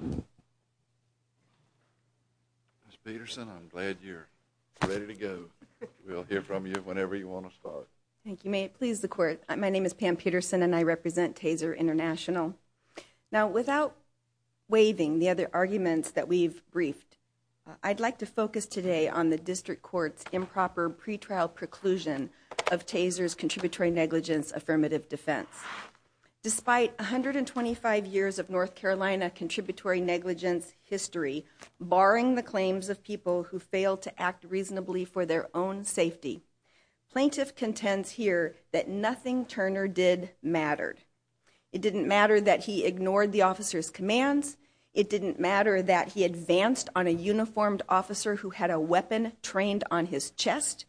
Ms. Peterson, I'm glad you're ready to go. We'll hear from you whenever you want to start. Thank you. May it please the Court, my name is Pam Peterson and I represent Taser International. Now, without waiving the other arguments that we've briefed, I'd like to focus today on the District Court's improper pretrial preclusion of Taser's contributory negligence affirmative defense. Despite 125 years of North Carolina contributory negligence history, barring the claims of people who failed to act reasonably for their own safety, plaintiff contends here that nothing Turner did mattered. It didn't matter that he ignored the officer's commands, it didn't matter that he advanced on a uniformed officer who had a weapon trained on his chest,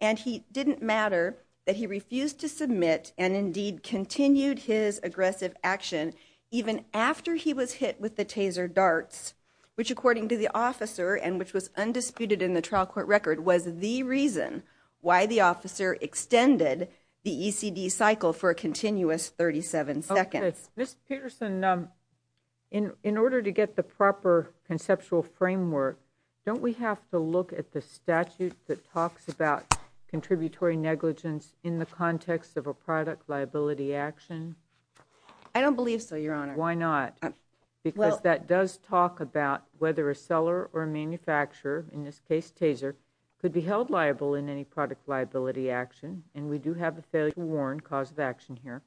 and it didn't matter that he refused to submit and indeed continued his aggressive action even after he was hit with the taser darts, which according to the officer and which was undisputed in the trial court record was the reason why the officer extended the ECD cycle for a continuous 37 seconds. Ms. Peterson, in order to get the proper conceptual framework, don't we have to look at the statute that talks about contributory negligence in the context of a product liability action? I don't believe so, Your Honor. Why not? Because that does talk about whether a seller or a manufacturer, in this case Taser, could be held liable in any product liability action and we do have a failure to warn cause of action here.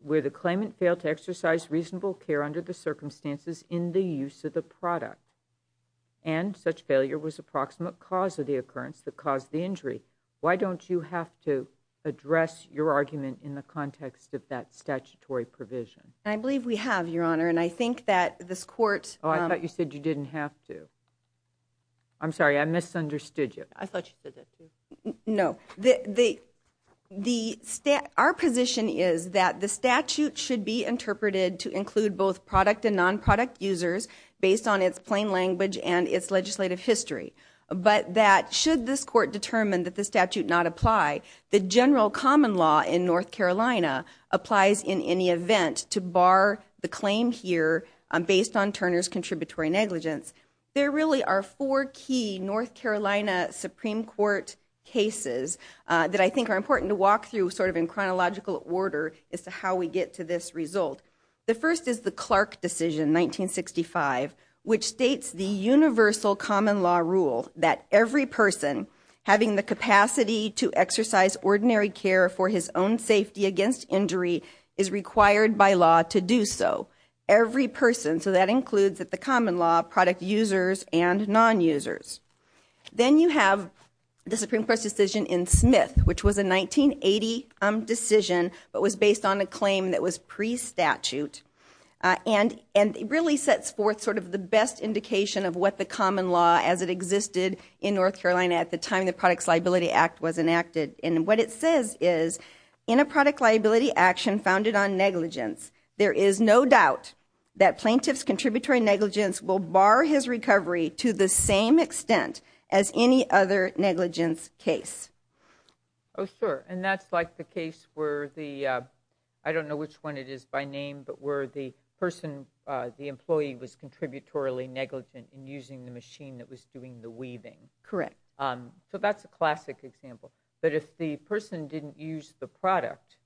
Where the claimant failed to exercise reasonable care under the circumstances in the use of the product and such failure was approximate cause of the occurrence that caused the injury. Why don't you have to address your argument in the context of that statutory provision? I believe we have, Your Honor, and I think that this court... Oh, I thought you said you didn't have to. I'm sorry, I misunderstood you. I thought you said that too. No. Our position is that the statute should be interpreted to include both product and non-product users based on its plain language and its legislative history, but that should this court determine that the statute not apply, the general common law in North Carolina applies in any event to bar the claim here based on Turner's contributory negligence. There really are four key North Carolina Supreme Court cases that I think are important to walk through sort of in chronological order as to how we get to this result. The first is the Clark decision, 1965, which states the universal common law rule that every person having the capacity to exercise ordinary care for his own safety against injury is required by law to do so. Every person. So that includes at the common law, product users and non-users. Then you have the Supreme Court's decision in Smith, which was a 1980 decision but was based on a claim that was pre-statute and really sets forth sort of the best indication of what the common law, as it existed in North Carolina at the time the Products Liability Act was enacted. And what it says is, in a product liability action founded on negligence, there is no doubt that plaintiff's contributory negligence will bar his recovery to the same extent as any other negligence case. Oh, sure. And that's like the case where the, I don't know which one it is by name, but where the person, the employee was contributory negligent in using the machine that was doing the weaving. Correct. So that's a classic example. But if the person didn't use the product,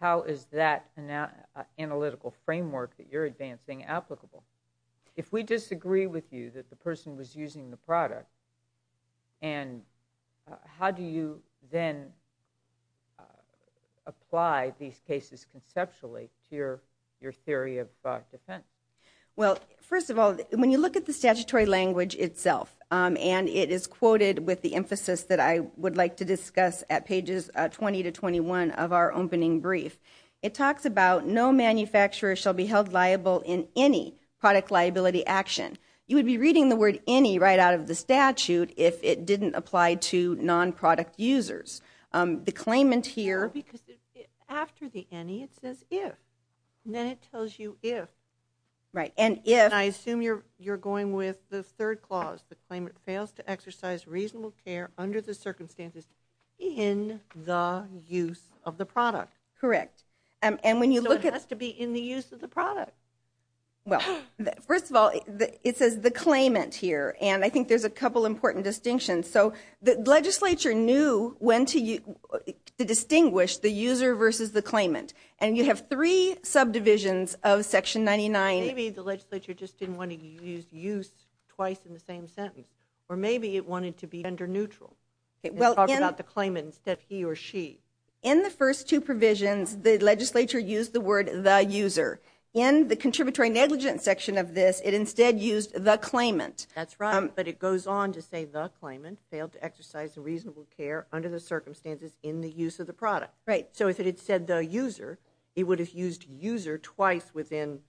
how is that analytical framework that you're advancing applicable? If we disagree with you that the person was using the product, and how do you then apply these cases conceptually to your theory of defense? Well, first of all, when you look at the statutory language itself, and it is quoted with the emphasis that I would like to discuss at pages 20 to 21 of our opening brief, it talks about no manufacturer shall be held liable in any product liability action. You would be reading the word any right out of the statute if it didn't apply to non-product users. The claimant here... No, because after the any, it says if. And then it tells you if. Right, and if... And I assume you're going with the third clause, the claimant fails to exercise reasonable care under the circumstances in the use of the product. Correct. So it has to be in the use of the product. Well, first of all, it says the claimant here, and I think there's a couple important distinctions. So the legislature knew when to distinguish the user versus the claimant, and you have three subdivisions of Section 99. Maybe the legislature just didn't want to use use twice in the same sentence, or maybe it wanted to be gender neutral and talk about the claimant instead of he or she. In the first two provisions, the legislature used the word the user. In the contributory negligence section of this, it instead used the claimant. That's right. But it goes on to say the claimant failed to exercise reasonable care under the circumstances in the use of the product. Right. So if it had said the user, it would have used user twice within,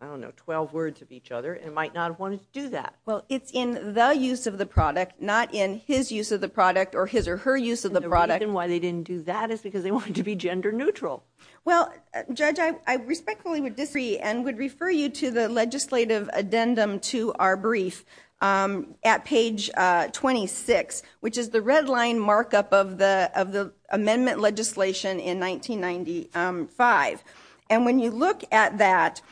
I don't know, 12 words of each other and might not have wanted to do that. Well, it's in the use of the product, not in his use of the product or his or her use of the product. And the reason why they didn't do that is because they wanted to be gender neutral. Well, Judge, I respectfully disagree and would refer you to the legislative addendum to our brief at page 26, which is the red line markup of the amendment legislation in 1995. And when you look at that,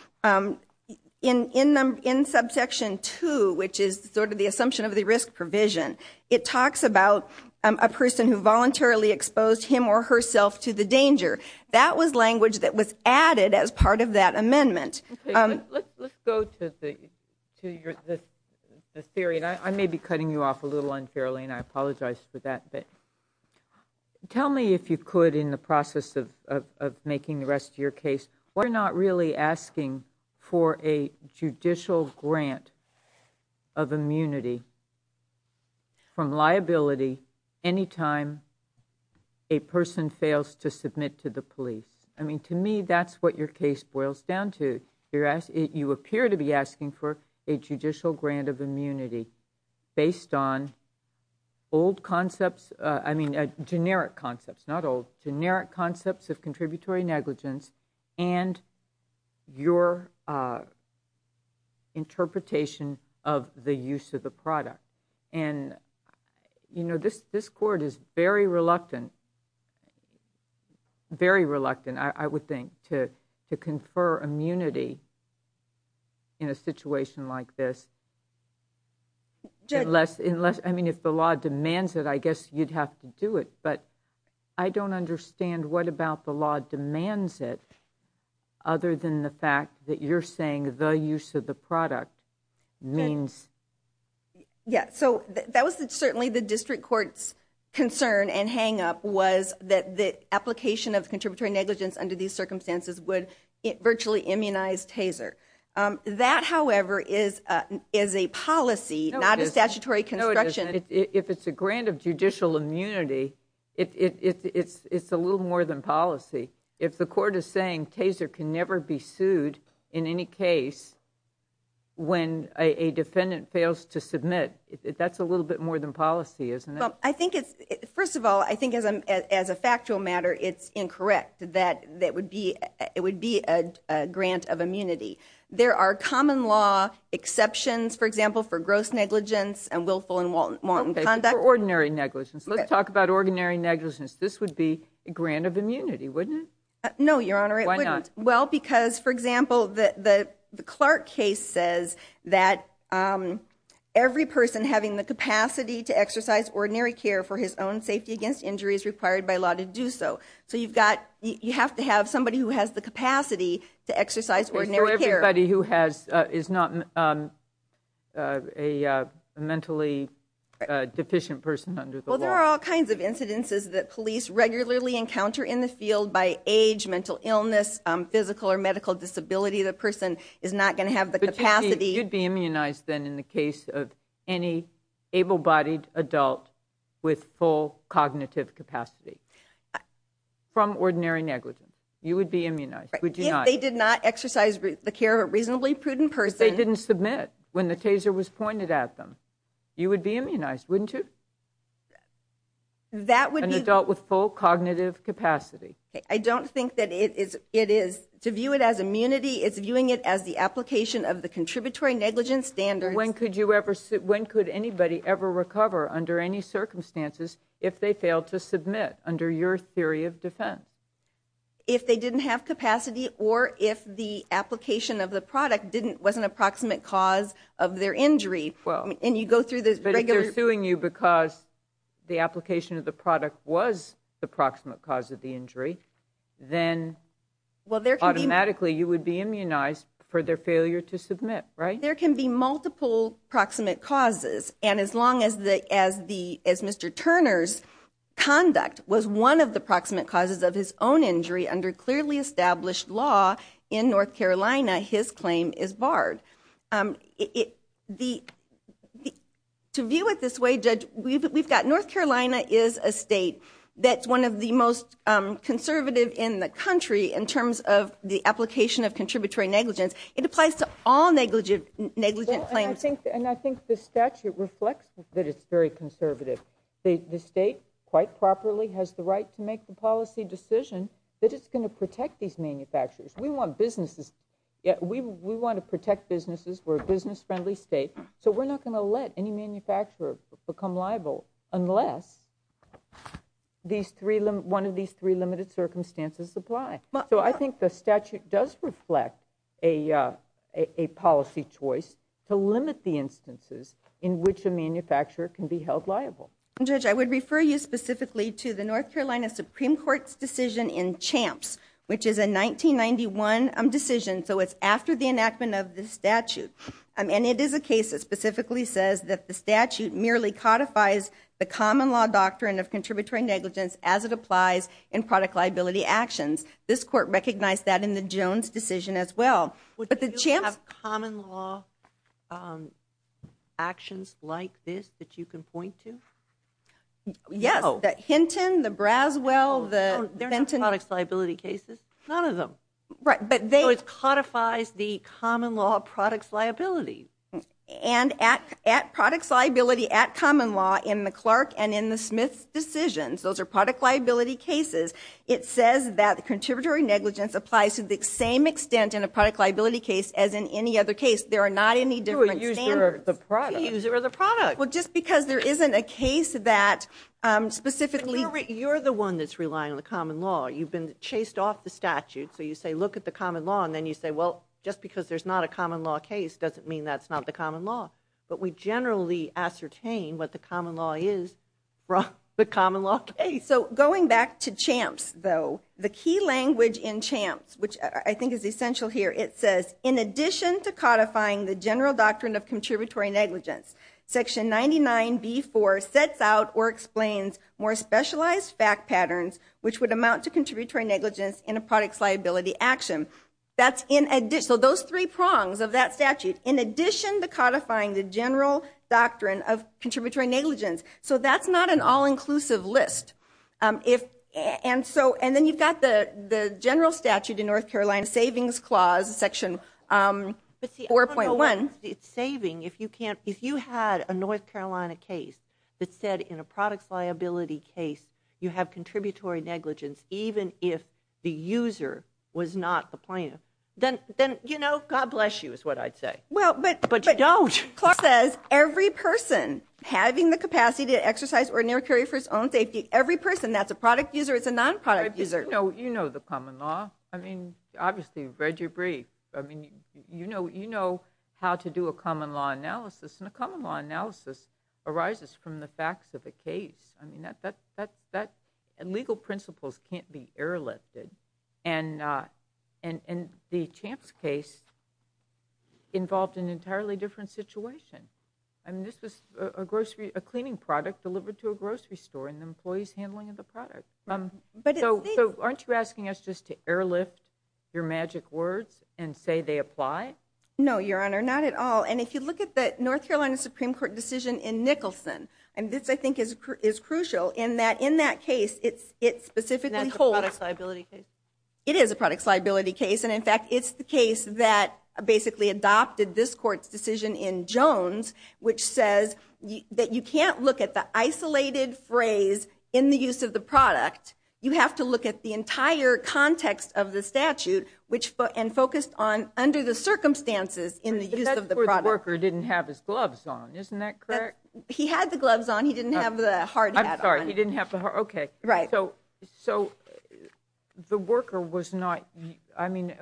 in subsection 2, which is sort of the assumption of the risk provision, it talks about a person who voluntarily exposed him or herself to the danger. That was language that was added as part of that amendment. Let's go to the theory, and I may be cutting you off a little unfairly and I apologize for that, but tell me if you could, in the process of making the rest of your case, why you're not really asking for a judicial grant of immunity from liability any time a person fails to submit to the police. I mean, to me, that's what your case boils down to. Based on old concepts, I mean, generic concepts, not old, generic concepts of contributory negligence and your interpretation of the use of the product. And, you know, this Court is very reluctant, very reluctant, I would think, to confer immunity in a situation like this unless, I mean, if the law demands it, I guess you'd have to do it. But I don't understand what about the law demands it other than the fact that you're saying the use of the product means. Yeah, so that was certainly the district court's concern and hang-up was that the application of contributory negligence under these circumstances would virtually immunize TASER. That, however, is a policy, not a statutory construction. If it's a grant of judicial immunity, it's a little more than policy. If the Court is saying TASER can never be sued in any case when a defendant fails to submit, that's a little bit more than policy, isn't it? Well, I think it's, first of all, I think as a factual matter it's incorrect that it would be a grant of immunity. There are common law exceptions, for example, for gross negligence and willful and wanton conduct. Okay, for ordinary negligence. Let's talk about ordinary negligence. This would be a grant of immunity, wouldn't it? No, Your Honor, it wouldn't. Why not? Well, because, for example, the Clark case says that every person having the capacity to exercise ordinary care for his own safety against injury is required by law to do so. So you have to have somebody who has the capacity to exercise ordinary care. For everybody who is not a mentally deficient person under the law. Well, there are all kinds of incidences that police regularly encounter in the field by age, mental illness, physical or medical disability. The person is not going to have the capacity. You'd be immunized then in the case of any able-bodied adult with full cognitive capacity from ordinary negligence. You would be immunized, would you not? If they did not exercise the care of a reasonably prudent person. If they didn't submit when the taser was pointed at them, you would be immunized, wouldn't you? That would be. An adult with full cognitive capacity. I don't think that it is, to view it as immunity, it's viewing it as the application of the contributory negligence standard. When could anybody ever recover under any circumstances if they failed to submit under your theory of defense? If they didn't have capacity or if the application of the product was an approximate cause of their injury. And you go through the regular. But if they're suing you because the application of the product was the approximate cause of the injury, then automatically you would be immunized for their failure to submit. There can be multiple proximate causes. And as long as Mr. Turner's conduct was one of the proximate causes of his own injury under clearly established law in North Carolina, his claim is barred. To view it this way, Judge, we've got North Carolina is a state that's one of the most conservative in the country in terms of the application of contributory negligence. It applies to all negligent claims. And I think the statute reflects that it's very conservative. The state, quite properly, has the right to make the policy decision that it's going to protect these manufacturers. We want businesses. We want to protect businesses. We're a business-friendly state. So we're not going to let any manufacturer become liable unless one of these three limited circumstances apply. So I think the statute does reflect a policy choice to limit the instances in which a manufacturer can be held liable. Judge, I would refer you specifically to the North Carolina Supreme Court's decision in Champs, which is a 1991 decision, so it's after the enactment of the statute. And it is a case that specifically says that the statute merely codifies the common law doctrine of contributory negligence as it applies in product liability actions. This court recognized that in the Jones decision as well. But the Champs... Do you have common law actions like this that you can point to? Yes. The Hinton, the Braswell, the Benton... They're not products liability cases. None of them. Right, but they... And at products liability at common law in the Clark and in the Smith decisions, those are product liability cases, it says that the contributory negligence applies to the same extent in a product liability case as in any other case. There are not any different standards. You're a user of the product. A user of the product. Well, just because there isn't a case that specifically... You're the one that's relying on the common law. You've been chased off the statute, so you say, you look at the common law and then you say, well, just because there's not a common law case doesn't mean that's not the common law. But we generally ascertain what the common law is from the common law case. So going back to Champs, though, the key language in Champs, which I think is essential here, it says, in addition to codifying the general doctrine of contributory negligence, Section 99B4 sets out or explains more specialized fact patterns which would amount to contributory negligence in a products liability action. So those three prongs of that statute, in addition to codifying the general doctrine of contributory negligence. So that's not an all-inclusive list. And then you've got the general statute in North Carolina, Savings Clause, Section 4.1. It's saving. If you had a North Carolina case that said in a products liability case you have contributory negligence even if the user was not the plaintiff, then, you know, God bless you, is what I'd say. But you don't. Clark says every person having the capacity to exercise ordinary security for his own safety, every person, that's a product user, it's a non-product user. You know the common law. I mean, obviously, you've read your brief. I mean, you know how to do a common law analysis. And a common law analysis arises from the facts of a case. I mean, legal principles can't be airlifted. And the Champs case involved an entirely different situation. I mean, this was a cleaning product delivered to a grocery store and the employee's handling of the product. So aren't you asking us just to airlift your magic words and say they apply? No, Your Honor, not at all. And if you look at the North Carolina Supreme Court decision in Nicholson, and this, I think, is crucial, in that in that case, it specifically holds... And that's a product liability case? It is a product liability case. And, in fact, it's the case that basically adopted this court's decision in Jones, which says that you can't look at the isolated phrase in the use of the product. You have to look at the entire context of the statute and focus on under the circumstances in the use of the product. The worker didn't have his gloves on. Isn't that correct? He had the gloves on. He didn't have the hard hat on. I'm sorry, he didn't have the hard... Okay. Right. So the worker was not... I mean,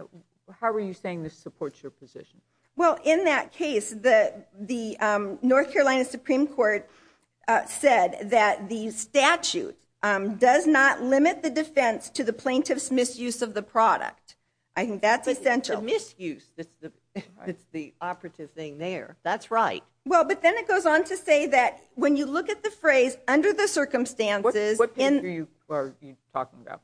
how are you saying this supports your position? Well, in that case, the North Carolina Supreme Court said that the statute does not limit the defense to the plaintiff's misuse of the product. I think that's essential. It's the misuse that's the operative thing there. That's right. Well, but then it goes on to say that when you look at the phrase under the circumstances... What page are you talking about?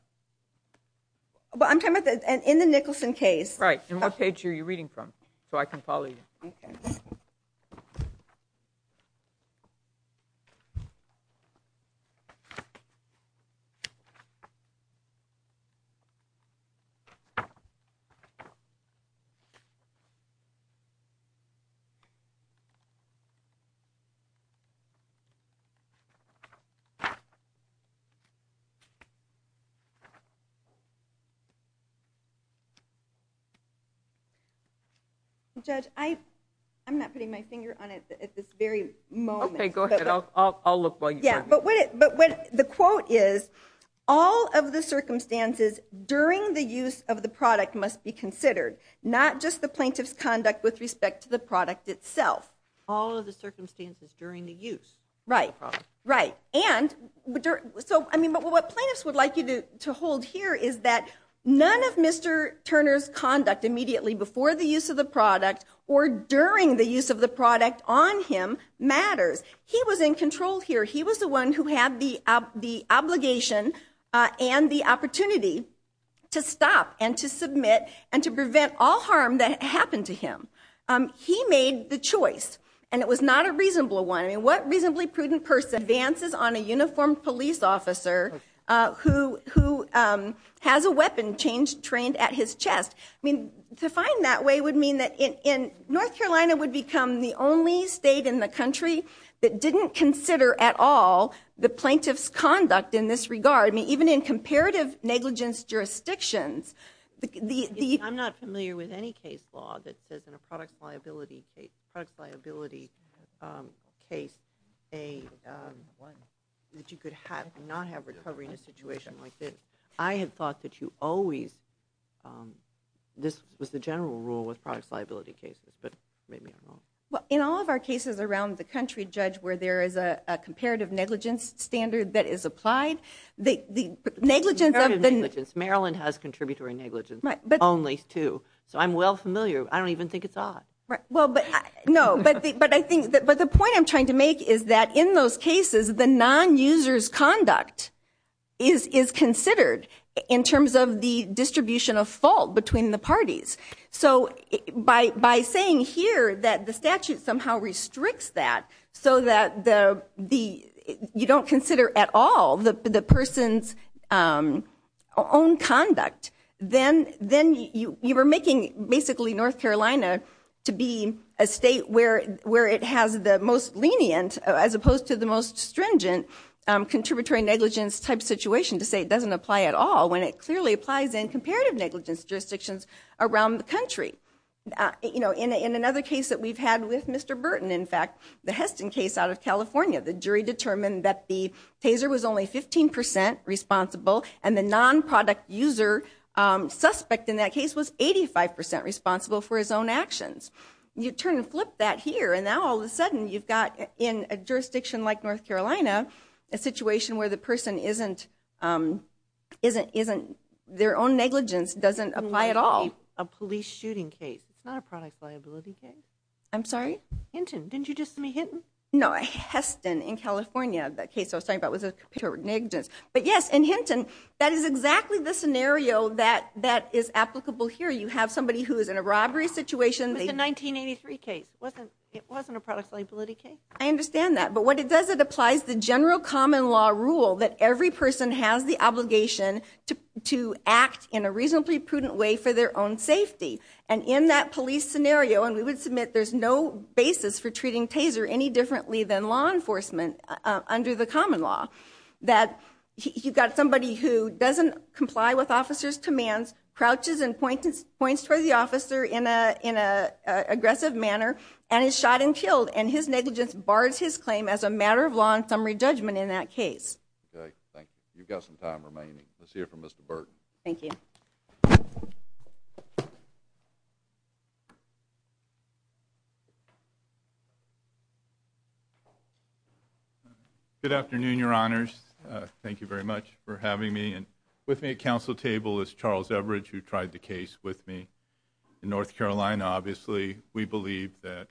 Well, I'm talking about in the Nicholson case. Right. And what page are you reading from so I can follow you? Okay. Judge, I'm not putting my finger on it at this very moment. Okay, go ahead. I'll look while you... Yeah, but the quote is, all of the circumstances during the use of the product must be considered, not just the plaintiff's conduct with respect to the product itself. All of the circumstances during the use of the product. Right, right. And so, I mean, what plaintiffs would like you to hold here is that none of Mr. Turner's conduct immediately before the use of the product or during the use of the product on him matters. He was in control here. He was the one who had the obligation and the opportunity to stop and to submit and to prevent all harm that happened to him. He made the choice, and it was not a reasonable one. I mean, what reasonably prudent person advances on a uniformed police officer who has a weapon trained at his chest? I mean, to find that way would mean that North Carolina would become the only state in the country that didn't consider at all the plaintiff's conduct in this regard. I mean, even in comparative negligence jurisdictions. I'm not familiar with any case law that says in a products liability case that you could not have recovery in a situation like this. I had thought that you always, this was the general rule with products liability cases, but maybe I'm wrong. Well, in all of our cases around the country, Judge, where there is a comparative negligence standard that is applied, the negligence of the... Comparative negligence. Maryland has contributory negligence only, too. So I'm well familiar. I don't even think it's odd. No, but I think, but the point I'm trying to make is that in those cases, the non-user's conduct is considered in terms of the distribution of fault between the parties. So by saying here that the statute somehow restricts that so that you don't consider at all the person's own conduct, then you are making basically North Carolina to be a state where it has the most lenient, as opposed to the most stringent, contributory negligence type situation to say it doesn't apply at all, when it clearly applies in comparative negligence jurisdictions around the country. In another case that we've had with Mr. Burton, in fact, the Heston case out of California, the jury determined that the taser was only 15% responsible and the non-product user suspect in that case was 85% responsible for his own actions. You turn and flip that here, and now all of a sudden you've got in a jurisdiction like North Carolina a situation where the person isn't... It's not a police shooting case. It's not a products liability case. I'm sorry? Hinton, didn't you just say Hinton? No, Heston in California, the case I was talking about was a comparative negligence. But yes, in Hinton, that is exactly the scenario that is applicable here. You have somebody who is in a robbery situation. It was a 1983 case. It wasn't a products liability case. I understand that, but what it does, it applies the general common law rule that every person has the obligation to act in a reasonably prudent way for their own safety. And in that police scenario, and we would submit there's no basis for treating taser any differently than law enforcement under the common law, that you've got somebody who doesn't comply with officers' commands, crouches and points towards the officer in an aggressive manner, and is shot and killed, and his negligence bars his claim as a matter of law and summary judgment in that case. Okay, thank you. You've got some time remaining. Let's hear from Mr. Burton. Thank you. Good afternoon, Your Honors. Thank you very much for having me. With me at council table is Charles Everidge, who tried the case with me. In North Carolina, obviously, we believe that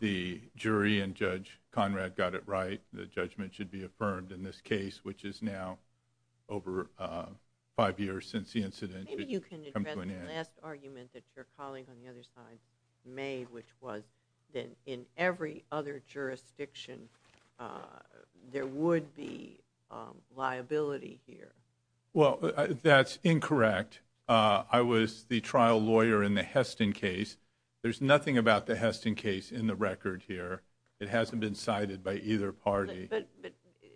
the jury and Judge Conrad got it right, that the judgment should be affirmed in this case, which is now over five years since the incident. Maybe you can address the last argument that your colleague on the other side made, which was that in every other jurisdiction, there would be liability here. Well, that's incorrect. I was the trial lawyer in the Heston case. There's nothing about the Heston case in the record here. It hasn't been cited by either party.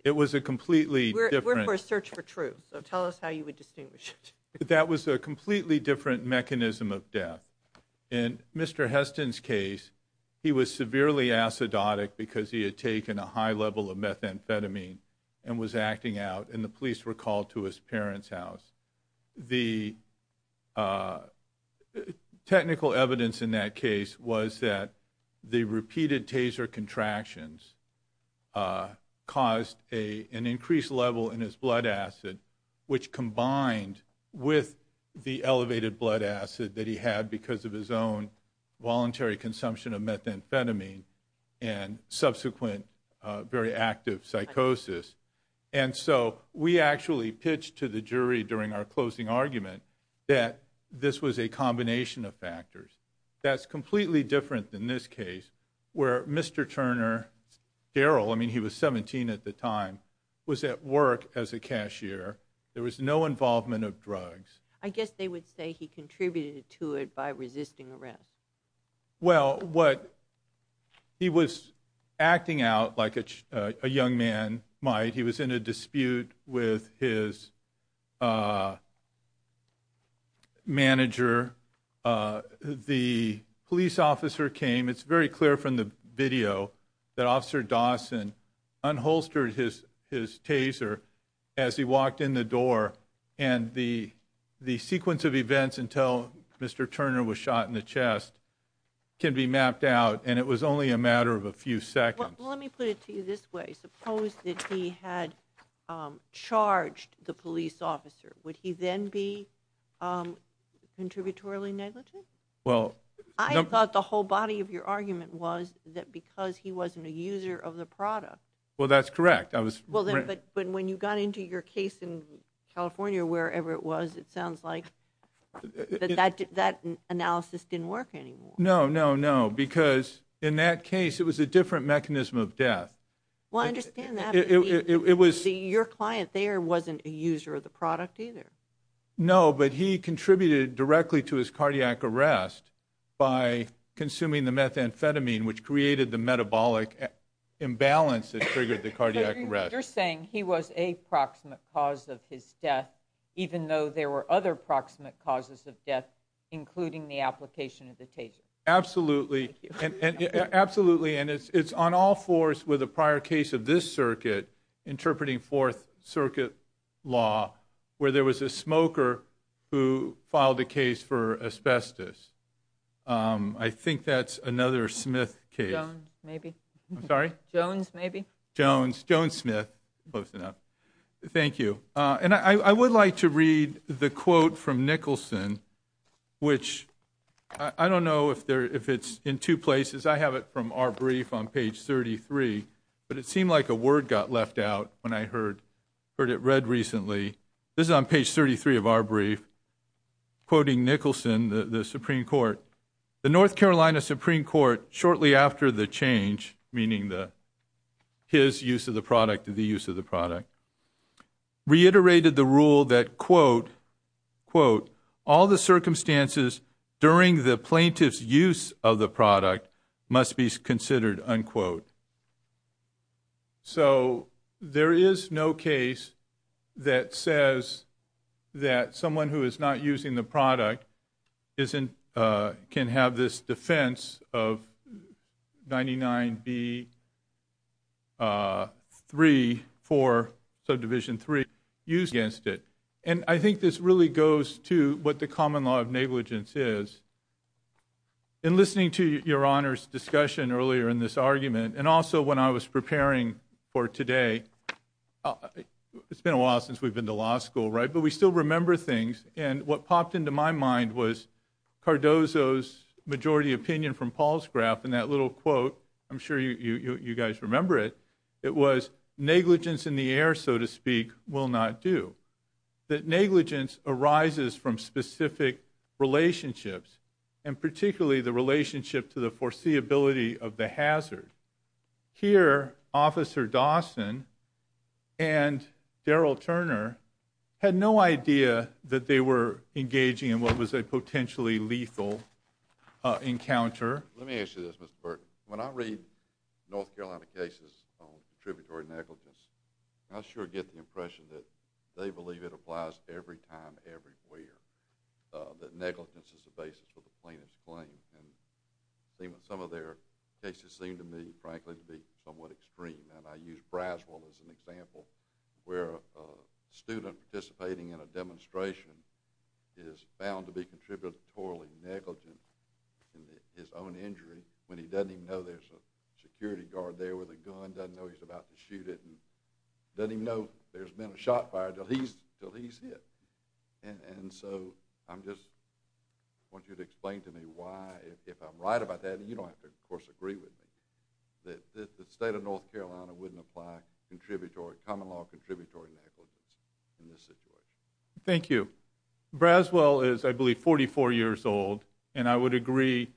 It was a completely different... We're for a search for truth, so tell us how you would distinguish it. That was a completely different mechanism of death. In Mr. Heston's case, he was severely acidotic because he had taken a high level of methamphetamine and was acting out, and the police were called to his parents' house. The technical evidence in that case was that the repeated taser contractions caused an increased level in his blood acid, which combined with the elevated blood acid that he had because of his own voluntary consumption of methamphetamine and subsequent very active psychosis. And so we actually pitched to the jury during our closing argument that this was a combination of factors. That's completely different than this case, where Mr. Turner, Darrell, I mean, he was 17 at the time, was at work as a cashier. There was no involvement of drugs. I guess they would say he contributed to it by resisting arrest. Well, what... He was acting out like a young man might. He was in a dispute with his... manager. The police officer came. It's very clear from the video that Officer Dawson unholstered his taser as he walked in the door, and the sequence of events until Mr. Turner was shot in the chest can be mapped out, and it was only a matter of a few seconds. Well, let me put it to you this way. Suppose that he had charged the police officer. Would he then be contributorily negligent? Well... I thought the whole body of your argument was that because he wasn't a user of the product... Well, that's correct. But when you got into your case in California or wherever it was, it sounds like that analysis didn't work anymore. No, no, no, because in that case, it was a different mechanism of death. Well, I understand that. Your client there wasn't a user of the product either. No, but he contributed directly to his cardiac arrest by consuming the methamphetamine, which created the metabolic imbalance that triggered the cardiac arrest. You're saying he was a proximate cause of his death even though there were other proximate causes of death, including the application of the taser. Absolutely. Absolutely, and it's on all fours with a prior case of this circuit, interpreting Fourth Circuit law, where there was a smoker who filed a case for asbestos. I think that's another Smith case. Jones, maybe. I'm sorry? Jones, maybe. Jones. Jones Smith. Close enough. Thank you. And I would like to read the quote from Nicholson, which I don't know if it's in two places. I have it from our brief on page 33, but it seemed like a word got left out when I heard it read recently. This is on page 33 of our brief, quoting Nicholson, the Supreme Court. The North Carolina Supreme Court, shortly after the change, meaning his use of the product and the use of the product, reiterated the rule that, quote, all the circumstances during the plaintiff's use of the product must be considered, unquote. So there is no case that says that someone who is not using the product can have this defense of 99B3 for subdivision 3 used against it. And I think this really goes to what the common law of negligence is. In listening to Your Honor's discussion earlier in this argument, and also when I was preparing for today, it's been a while since we've been to law school, right? But we still remember things, and what popped into my mind was Cardozo's majority opinion from Paul's graph in that little quote. I'm sure you guys remember it. It was negligence in the air, so to speak, will not do. That negligence arises from specific relationships, and particularly the relationship to the foreseeability of the hazard. Here, Officer Dawson and Daryl Turner had no idea that they were engaging in what was a potentially lethal encounter. Let me ask you this, Mr. Burton. When I read North Carolina cases on contributory negligence, I sure get the impression that they believe it applies every time, everywhere, that negligence is the basis for the plaintiff's claim. Some of their cases seem to me, frankly, to be somewhat extreme, and I use Braswell as an example, where a student participating in a demonstration is bound to be contributory negligent in his own injury when he doesn't even know there's a security guard there with a gun, doesn't know he's about to shoot it, and doesn't even know there's been a shot fired until he's hit. So I just want you to explain to me why, if I'm right about that, and you don't have to, of course, agree with me, that the state of North Carolina wouldn't apply common-law contributory negligence in this situation. Thank you. Braswell is, I believe, 44 years old, and I would agree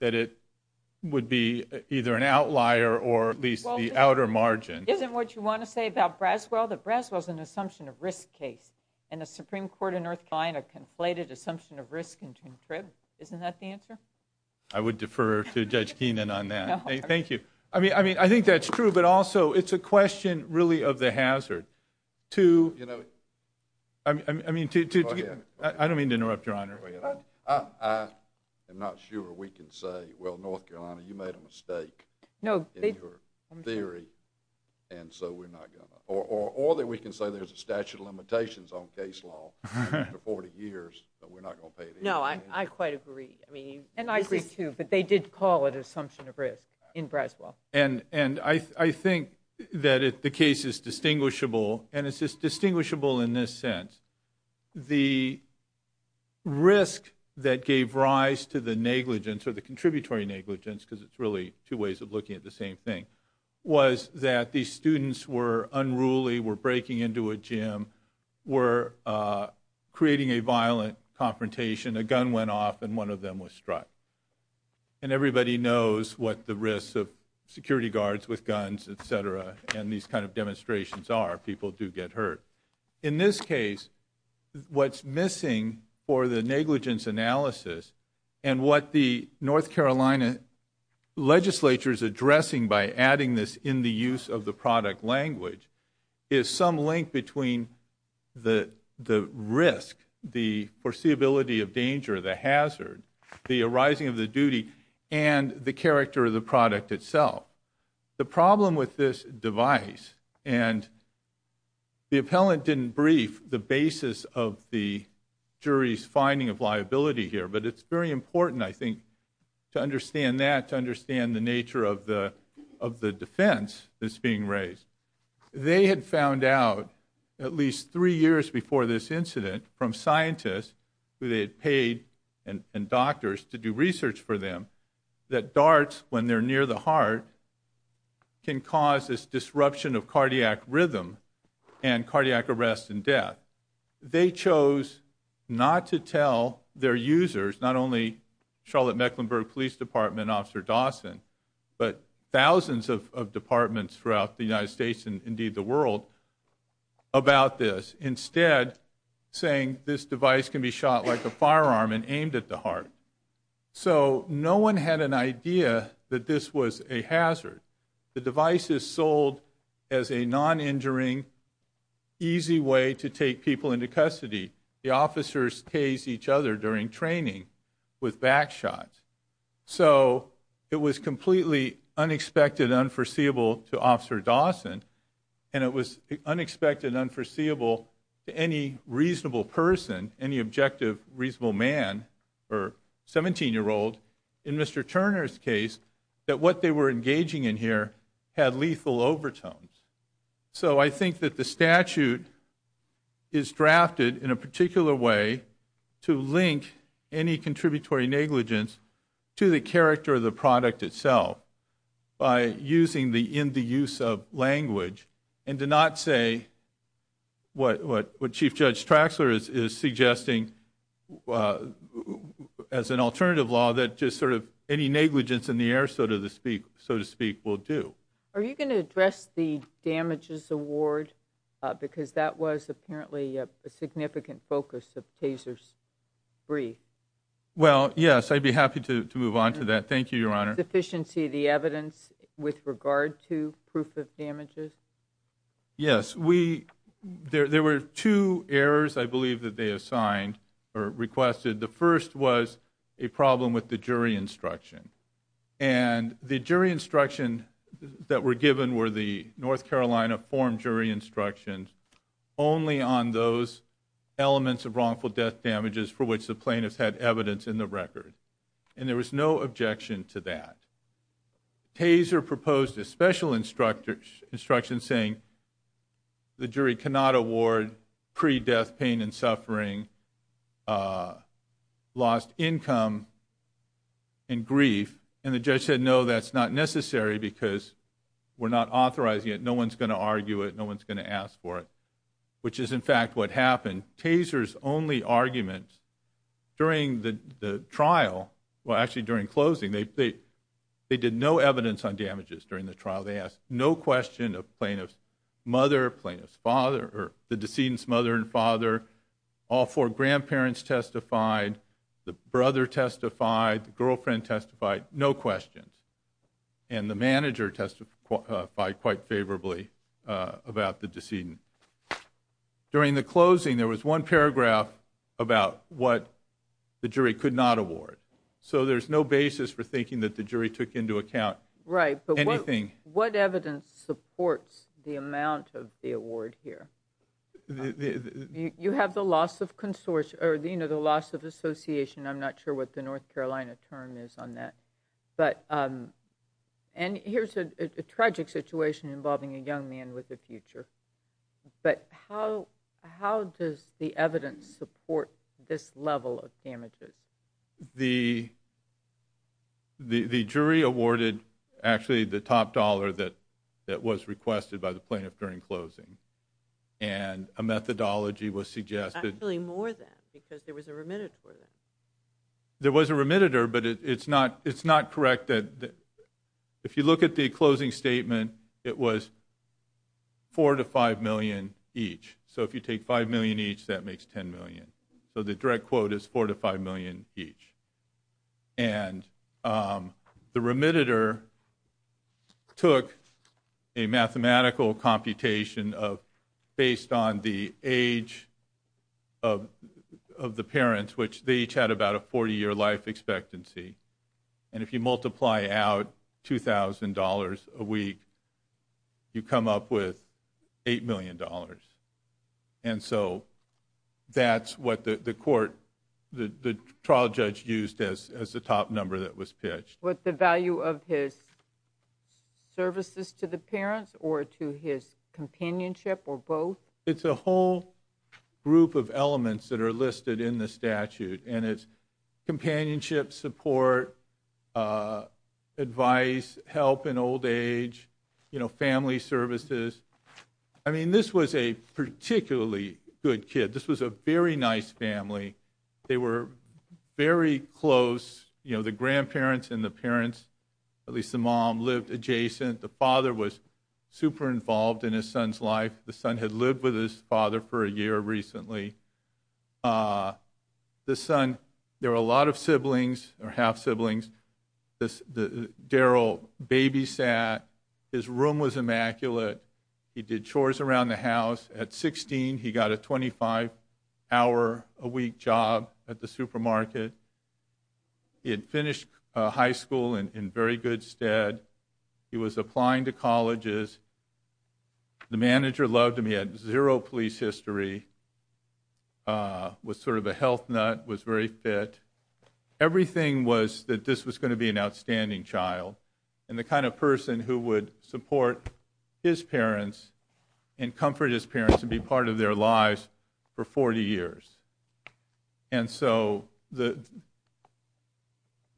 that it would be either an outlier or at least the outer margin. Isn't what you want to say about Braswell that Braswell's an assumption of risk case, and the Supreme Court in North Carolina conflated assumption of risk and contribution? Isn't that the answer? I would defer to Judge Keenan on that. Thank you. I mean, I think that's true, but also it's a question really of the hazard. I don't mean to interrupt, Your Honor. I am not sure we can say, well, North Carolina, you made a mistake in your theory, and so we're not going to, or that we can say there's a statute of limitations on case law for 40 years, but we're not going to pay it any attention. No, I quite agree. And I agree, too, but they did call it an assumption of risk in Braswell. And I think that the case is distinguishable, and it's just distinguishable in this sense. The risk that gave rise to the negligence, or the contributory negligence, because it's really two ways of looking at the same thing, was that these students were unruly, were breaking into a gym, were creating a violent confrontation. A gun went off, and one of them was struck. And everybody knows what the risks of security guards with guns, et cetera, and these kind of demonstrations are. People do get hurt. In this case, what's missing for the negligence analysis and what the North Carolina legislature is addressing by adding this in the use of the product language is some link between the risk, the foreseeability of danger, the hazard, the arising of the duty, and the character of the product itself. The problem with this device, and the appellant didn't brief the basis of the jury's finding of liability here, but it's very important, I think, to understand that, to understand the nature of the defense that's being raised. They had found out at least three years before this incident from scientists who they had paid and doctors to do research for them that darts, when they're near the heart, can cause this disruption of cardiac rhythm and cardiac arrest and death. They chose not to tell their users, not only Charlotte-Mecklenburg Police Department, Officer Dawson, but thousands of departments throughout the United States and, indeed, the world, about this, and aimed at the heart. So no one had an idea that this was a hazard. The device is sold as a non-injuring, easy way to take people into custody. The officers tase each other during training with back shots. So it was completely unexpected, unforeseeable to Officer Dawson, and it was unexpected, unforeseeable to any reasonable person, any objective reasonable man or 17-year-old, in Mr. Turner's case, that what they were engaging in here had lethal overtones. So I think that the statute is drafted in a particular way to link any contributory negligence to the character of the product itself by using the in-the-use-of language and to not say what Chief Judge Traxler is suggesting as an alternative law that just sort of any negligence in the air, so to speak, will do. Are you going to address the damages award? Because that was apparently a significant focus of taser's brief. Well, yes, I'd be happy to move on to that. Thank you, Your Honor. Was there a sufficiency of the evidence with regard to proof of damages? Yes. There were two errors, I believe, that they assigned or requested. The first was a problem with the jury instruction, and the jury instruction that were given were the North Carolina form jury instructions only on those elements of wrongful death damages for which the plaintiffs had evidence in the record, and there was no objection to that. Taser proposed a special instruction saying the jury cannot award pre-death pain and suffering, lost income, and grief, and the judge said, no, that's not necessary because we're not authorizing it, no one's going to argue it, no one's going to ask for it, which is, in fact, what happened. On taser's only argument, during the trial, well, actually during closing, they did no evidence on damages during the trial. They asked no question of plaintiff's mother, plaintiff's father, or the decedent's mother and father. All four grandparents testified. The brother testified. The girlfriend testified. No questions. And the manager testified quite favorably about the decedent. During the closing, there was one paragraph about what the jury could not award. So there's no basis for thinking that the jury took into account anything. Right, but what evidence supports the amount of the award here? You have the loss of association. I'm not sure what the North Carolina term is on that. And here's a tragic situation involving a young man with a future. But how does the evidence support this level of damages? The jury awarded, actually, the top dollar that was requested by the plaintiff during closing. And a methodology was suggested. Actually, more than, because there was a remitted for that. There was a remitted, but it's not correct. If you look at the closing statement, it was $4 million to $5 million each. So if you take $5 million each, that makes $10 million. So the direct quote is $4 million to $5 million each. And the remitted took a mathematical computation based on the age of the parents, which they each had about a 40-year life expectancy. And if you multiply out $2,000 a week, you come up with $8 million. And so that's what the trial judge used as the top number that was pitched. Was the value of his services to the parents or to his companionship or both? It's a whole group of elements that are listed in the statute. And it's companionship, support, advice, help in old age, family services. I mean, this was a particularly good kid. This was a very nice family. They were very close. The grandparents and the parents, at least the mom, lived adjacent. The father was super involved in his son's life. The son had lived with his father for a year recently. The son, there were a lot of siblings or half-siblings. Daryl babysat. His room was immaculate. He did chores around the house. At 16, he got a 25-hour-a-week job at the supermarket. He had finished high school in very good stead. He was applying to colleges. The manager loved him. He had zero police history, was sort of a health nut, was very fit. Everything was that this was going to be an outstanding child and the kind of person who would support his parents and comfort his parents and be part of their lives for 40 years. And so the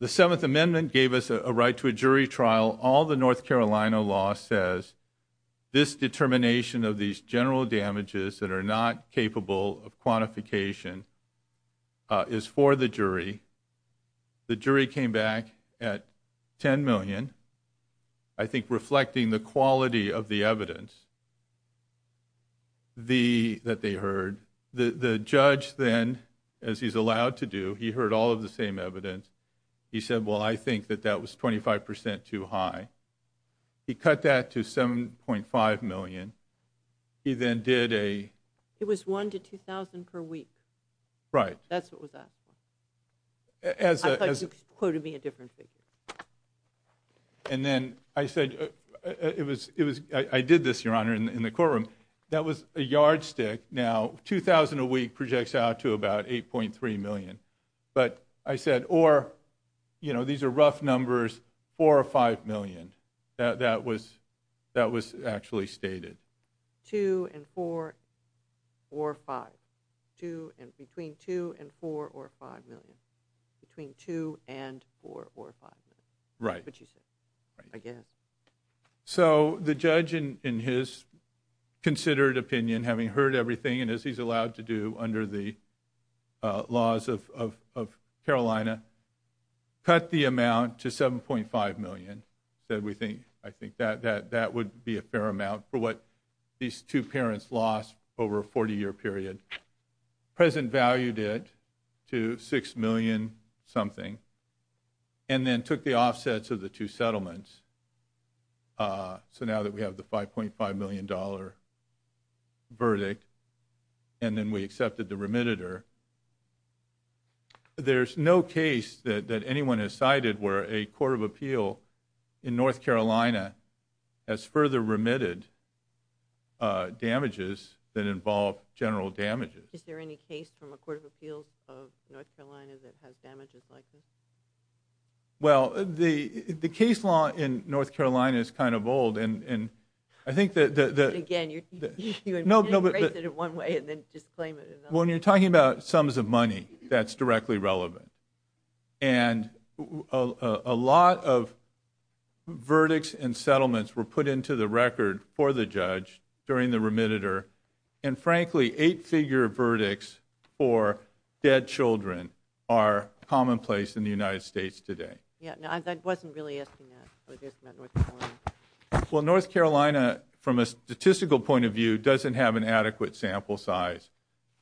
Seventh Amendment gave us a right to a jury trial. All the North Carolina law says, this determination of these general damages that are not capable of quantification is for the jury. The jury came back at $10 million, I think reflecting the quality of the evidence that they heard. The judge then, as he's allowed to do, he heard all of the same evidence. He said, well, I think that that was 25% too high. He cut that to $7.5 million. He then did a... It was one to 2,000 per week. Right. That's what was asked for. I thought you quoted me a different figure. And then I said, I did this, Your Honor, in the courtroom. That was a yardstick. Now, 2,000 a week projects out to about $8.3 million. But I said, or these are rough numbers, $4 or $5 million. That was actually stated. Two and four or five. Between two and four or five million. Between two and four or five million. Right. I guess. So the judge, in his considered opinion, having heard everything, and as he's allowed to do under the laws of Carolina, cut the amount to $7.5 million. He said, I think that would be a fair amount for what these two parents lost over a 40-year period. The President valued it to $6 million something, and then took the offsets of the two settlements. So now that we have the $5.5 million verdict, and then we accepted the remittitor, there's no case that anyone has cited where a court of appeal in North Carolina has further remitted damages that involve general damages. Is there any case from a court of appeals of North Carolina that has damages like this? Well, the case law in North Carolina is kind of old, and I think that the. Again, you embrace it in one way and then just claim it in another. When you're talking about sums of money, that's directly relevant. And a lot of verdicts and settlements were put into the record for the judge during the remittitor, and frankly, eight-figure verdicts for dead children are commonplace in the United States today. I wasn't really asking that. Well, North Carolina, from a statistical point of view, doesn't have an adequate sample size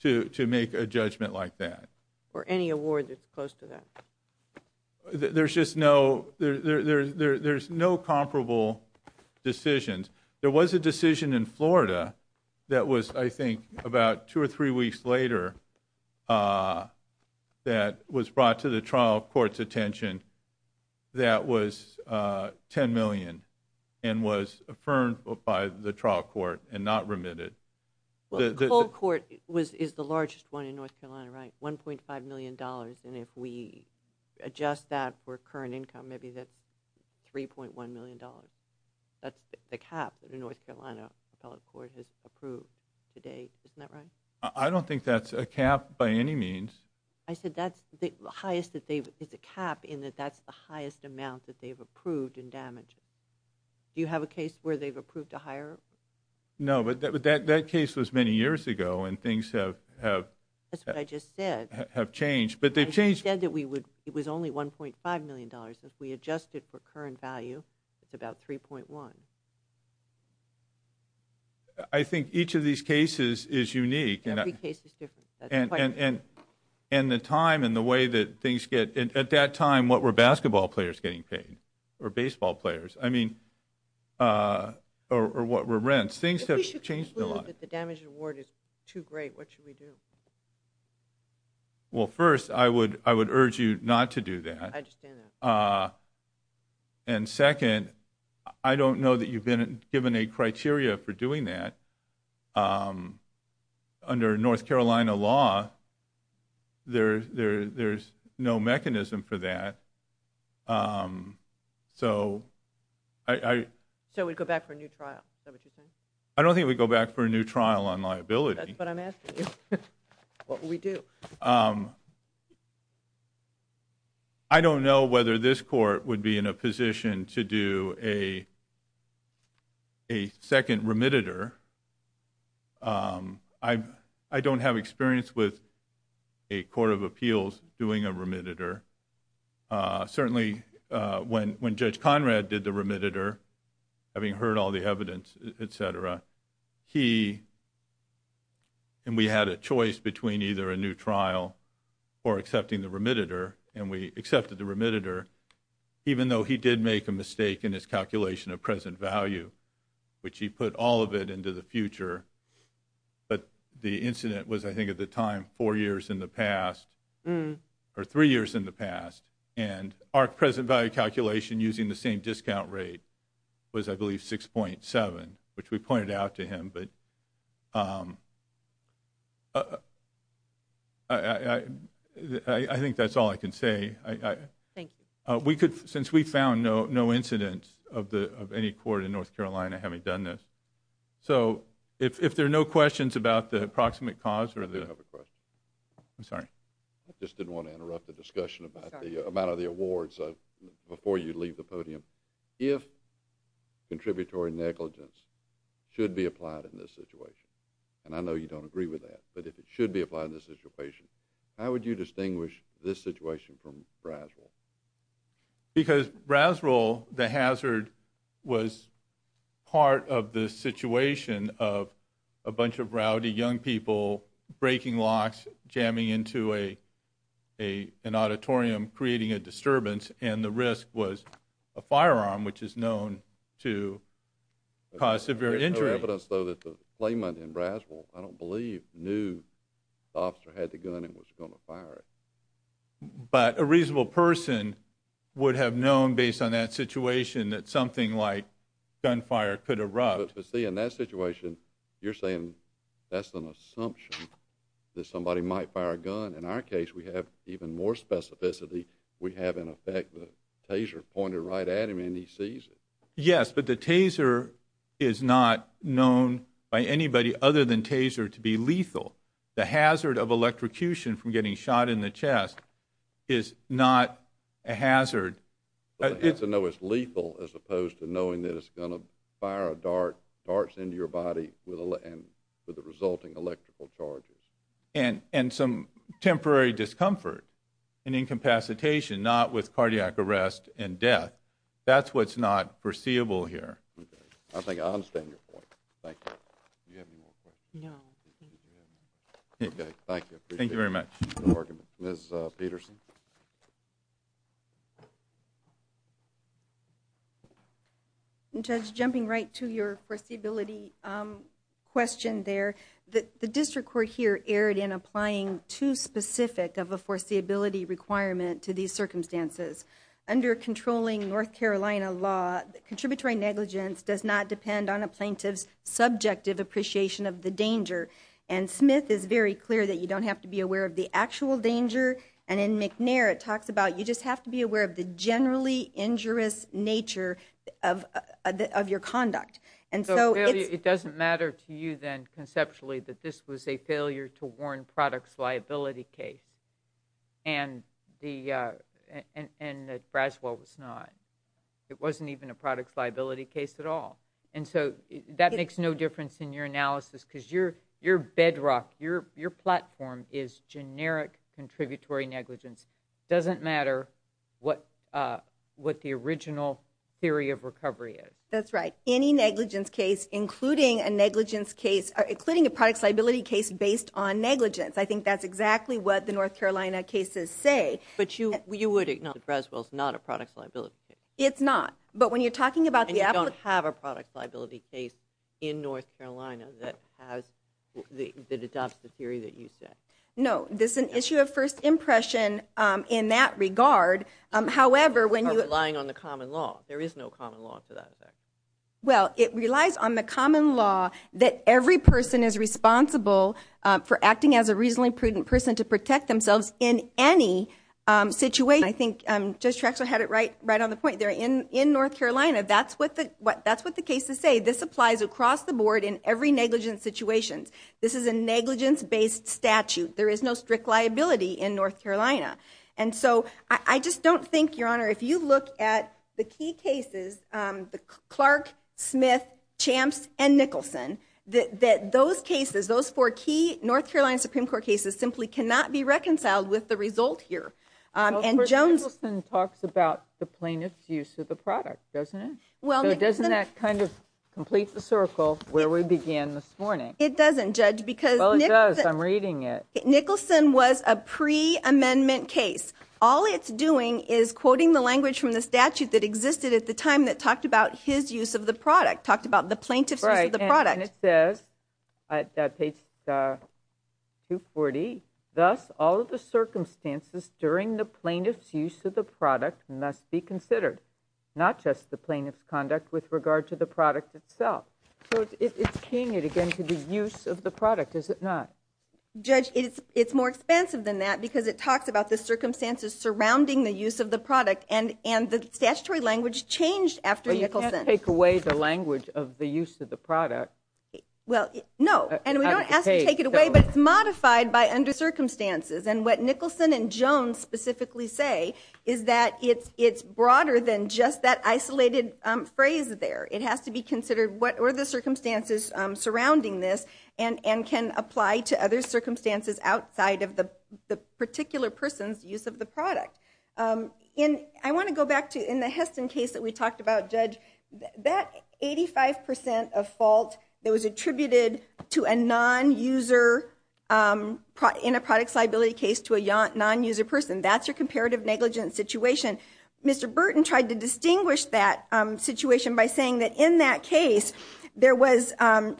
to make a judgment like that. Or any award that's close to that. There's just no comparable decisions. There was a decision in Florida that was, I think, about two or three weeks later that was brought to the trial court's attention that was $10 million and was affirmed by the trial court and not remitted. The cold court is the largest one in North Carolina, right? $1.5 million. And if we adjust that for current income, maybe that's $3.1 million. That's the cap that a North Carolina appellate court has approved today. Isn't that right? I don't think that's a cap by any means. I said it's a cap in that that's the highest amount that they've approved in damage. Do you have a case where they've approved a higher? No, but that case was many years ago, and things have changed. But they've changed. You said that it was only $1.5 million. If we adjust it for current value, it's about $3.1 million. I think each of these cases is unique. Every case is different. And the time and the way that things get at that time, what were basketball players getting paid or baseball players? I mean, or what were rents? Things have changed a lot. If we should conclude that the damage award is too great, what should we do? Well, first, I would urge you not to do that. I understand that. And second, I don't know that you've been given a criteria for doing that. Under North Carolina law, there's no mechanism for that. So we'd go back for a new trial? Is that what you're saying? I don't think we'd go back for a new trial on liability. That's what I'm asking you. What would we do? I don't know whether this court would be in a position to do a second remittitor. I don't have experience with a court of appeals doing a remittitor. Certainly when Judge Conrad did the remittitor, and we had a choice between either a new trial or accepting the remittitor, and we accepted the remittitor, even though he did make a mistake in his calculation of present value, which he put all of it into the future. But the incident was, I think, at the time, four years in the past, or three years in the past. And our present value calculation using the same discount rate was, I believe, 6.7, which we pointed out to him. But I think that's all I can say. Thank you. Since we found no incidents of any court in North Carolina having done this. So if there are no questions about the approximate cause or the – I have a question. I'm sorry. I just didn't want to interrupt the discussion about the amount of the awards before you leave the podium. If contributory negligence should be applied in this situation, and I know you don't agree with that, but if it should be applied in this situation, how would you distinguish this situation from Braswell? Because Braswell, the hazard, was part of the situation of a bunch of rowdy young people breaking locks, jamming into an auditorium, creating a disturbance, and the risk was a firearm, which is known to cause severe injury. There's no evidence, though, that the claimant in Braswell, I don't believe, knew the officer had the gun and was going to fire it. But a reasonable person would have known, based on that situation, that something like gunfire could erupt. But, see, in that situation, you're saying that's an assumption that somebody might fire a gun. In our case, we have even more specificity. We have, in effect, the taser pointed right at him, and he sees it. Yes, but the taser is not known by anybody other than taser to be lethal. The hazard of electrocution from getting shot in the chest is not a hazard. It's lethal as opposed to knowing that it's going to fire a dart, darts into your body with the resulting electrical charges. And some temporary discomfort and incapacitation, not with cardiac arrest and death, that's what's not foreseeable here. Okay, I think I understand your point. Thank you. Do you have any more questions? No. Okay, thank you. Thank you very much. No argument. Ms. Peterson? Judge, jumping right to your foreseeability question there, the district court here erred in applying too specific of a foreseeability requirement to these circumstances. Under controlling North Carolina law, contributory negligence does not depend on a plaintiff's subjective appreciation of the danger. And Smith is very clear that you don't have to be aware of the actual danger, and in McNair it talks about you just have to be aware of the generally injurious nature of your conduct. It doesn't matter to you then conceptually that this was a failure to warn products liability case and that Braswell was not. It wasn't even a products liability case at all. And so that makes no difference in your analysis because your bedrock, your platform is generic contributory negligence. It doesn't matter what the original theory of recovery is. That's right. Any negligence case, including a products liability case based on negligence, I think that's exactly what the North Carolina cases say. But you would acknowledge that Braswell is not a products liability case. It's not. And you don't have a products liability case in North Carolina that adopts the theory that you said. No. This is an issue of first impression in that regard. You are relying on the common law. There is no common law to that effect. Well, it relies on the common law that every person is responsible for acting as a reasonably prudent person to protect themselves in any situation. I think Judge Traxler had it right on the point there. In North Carolina, that's what the cases say. This applies across the board in every negligence situation. This is a negligence-based statute. There is no strict liability in North Carolina. I just don't think, Your Honor, if you look at the key cases, Clark, Smith, Champs, and Nicholson, that those cases, those four key North Carolina Supreme Court cases simply cannot be reconciled with the result here. Nicholson talks about the plaintiff's use of the product, doesn't he? Doesn't that kind of complete the circle where we began this morning? It doesn't, Judge. Well, it does. I'm reading it. Nicholson was a pre-amendment case. All it's doing is quoting the language from the statute that existed at the time that talked about his use of the product, talked about the plaintiff's use of the product. And it says, page 240, thus all of the circumstances during the plaintiff's use of the product must be considered, not just the plaintiff's conduct with regard to the product itself. So it's keying it, again, to the use of the product, is it not? Judge, it's more expensive than that because it talks about the circumstances surrounding the use of the product, and the statutory language changed after Nicholson. Well, you can't take away the language of the use of the product. Well, no, and we don't ask to take it away, but it's modified by under circumstances. And what Nicholson and Jones specifically say is that it's broader than just that isolated phrase there. It has to be considered what were the circumstances surrounding this and can apply to other circumstances outside of the particular person's use of the product. I want to go back to, in the Heston case that we talked about, Judge, that 85% of fault that was attributed to a non-user, in a product liability case, to a non-user person, that's your comparative negligence situation. Mr. Burton tried to distinguish that situation by saying that in that case there was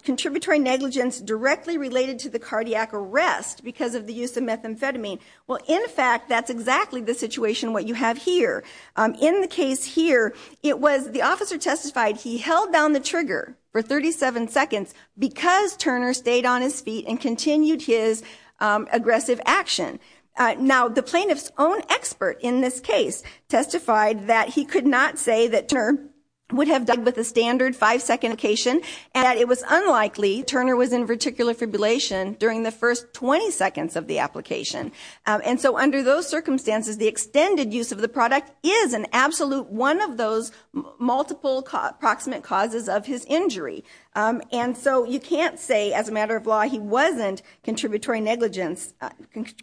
contributory negligence directly related to the cardiac arrest because of the use of methamphetamine. Well, in fact, that's exactly the situation what you have here. In the case here, it was the officer testified he held down the trigger for 37 seconds because Turner stayed on his feet and continued his aggressive action. Now, the plaintiff's own expert in this case testified that he could not say that Turner would have died with a standard five-second indication and that it was unlikely Turner was in verticular fibrillation during the first 20 seconds of the application. And so under those circumstances, the extended use of the product is an absolute one of those multiple proximate causes of his injury. And so you can't say as a matter of law he wasn't contributory negligence,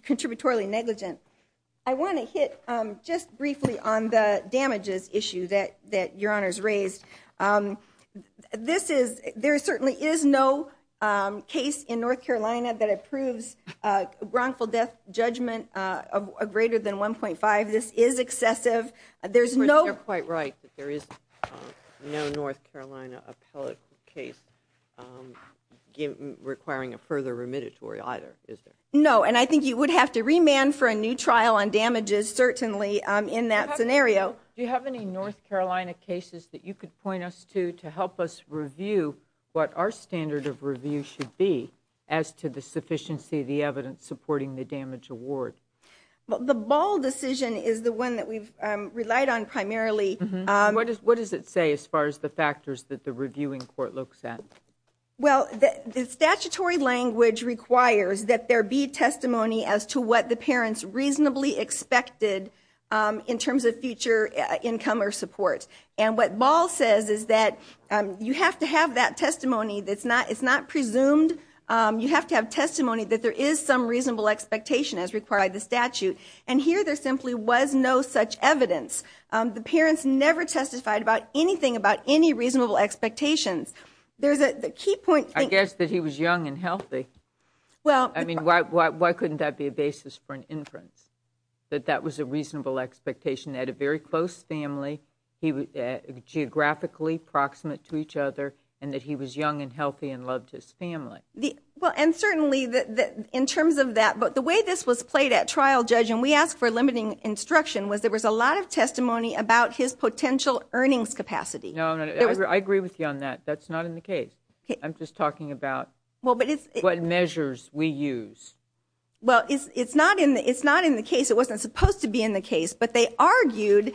contributory negligence. I want to hit just briefly on the damages issue that Your Honor's raised. There certainly is no case in North Carolina that approves wrongful death judgment of greater than 1.5. This is excessive. You're quite right that there is no North Carolina appellate case requiring a further remediatory either, is there? No, and I think you would have to remand for a new trial on damages certainly in that scenario. Do you have any North Carolina cases that you could point us to to help us review what our standard of review should be as to the sufficiency of the evidence supporting the damage award? The Ball decision is the one that we've relied on primarily. What does it say as far as the factors that the reviewing court looks at? Well, the statutory language requires that there be testimony as to what the parents reasonably expected in terms of future income or support. And what Ball says is that you have to have that testimony that's not presumed. You have to have testimony that there is some reasonable expectation as required by the statute. And here there simply was no such evidence. The parents never testified about anything about any reasonable expectations. I guess that he was young and healthy. I mean, why couldn't that be a basis for an inference, that that was a reasonable expectation? They had a very close family, geographically proximate to each other, and that he was young and healthy and loved his family. And certainly in terms of that, the way this was played at trial, Judge, and we asked for limiting instruction, was there was a lot of testimony about his potential earnings capacity. No, I agree with you on that. That's not in the case. I'm just talking about what measures we use. Well, it's not in the case. It wasn't supposed to be in the case. But they argued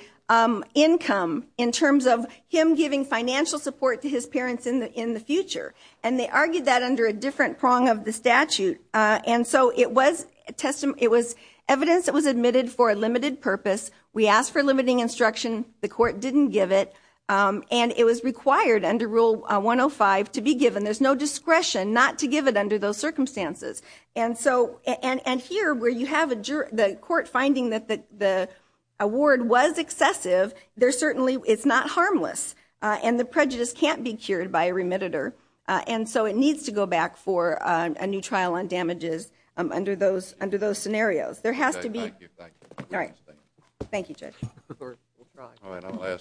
income in terms of him giving financial support to his parents in the future. And they argued that under a different prong of the statute. And so it was evidence that was admitted for a limited purpose. We asked for limiting instruction. The court didn't give it. And it was required under Rule 105 to be given. There's no discretion not to give it under those circumstances. And here, where you have the court finding that the award was excessive, it's not harmless. And the prejudice can't be cured by a remittitor. And so it needs to go back for a new trial on damages under those scenarios. Thank you. Thank you, Judge. All right, I'll ask.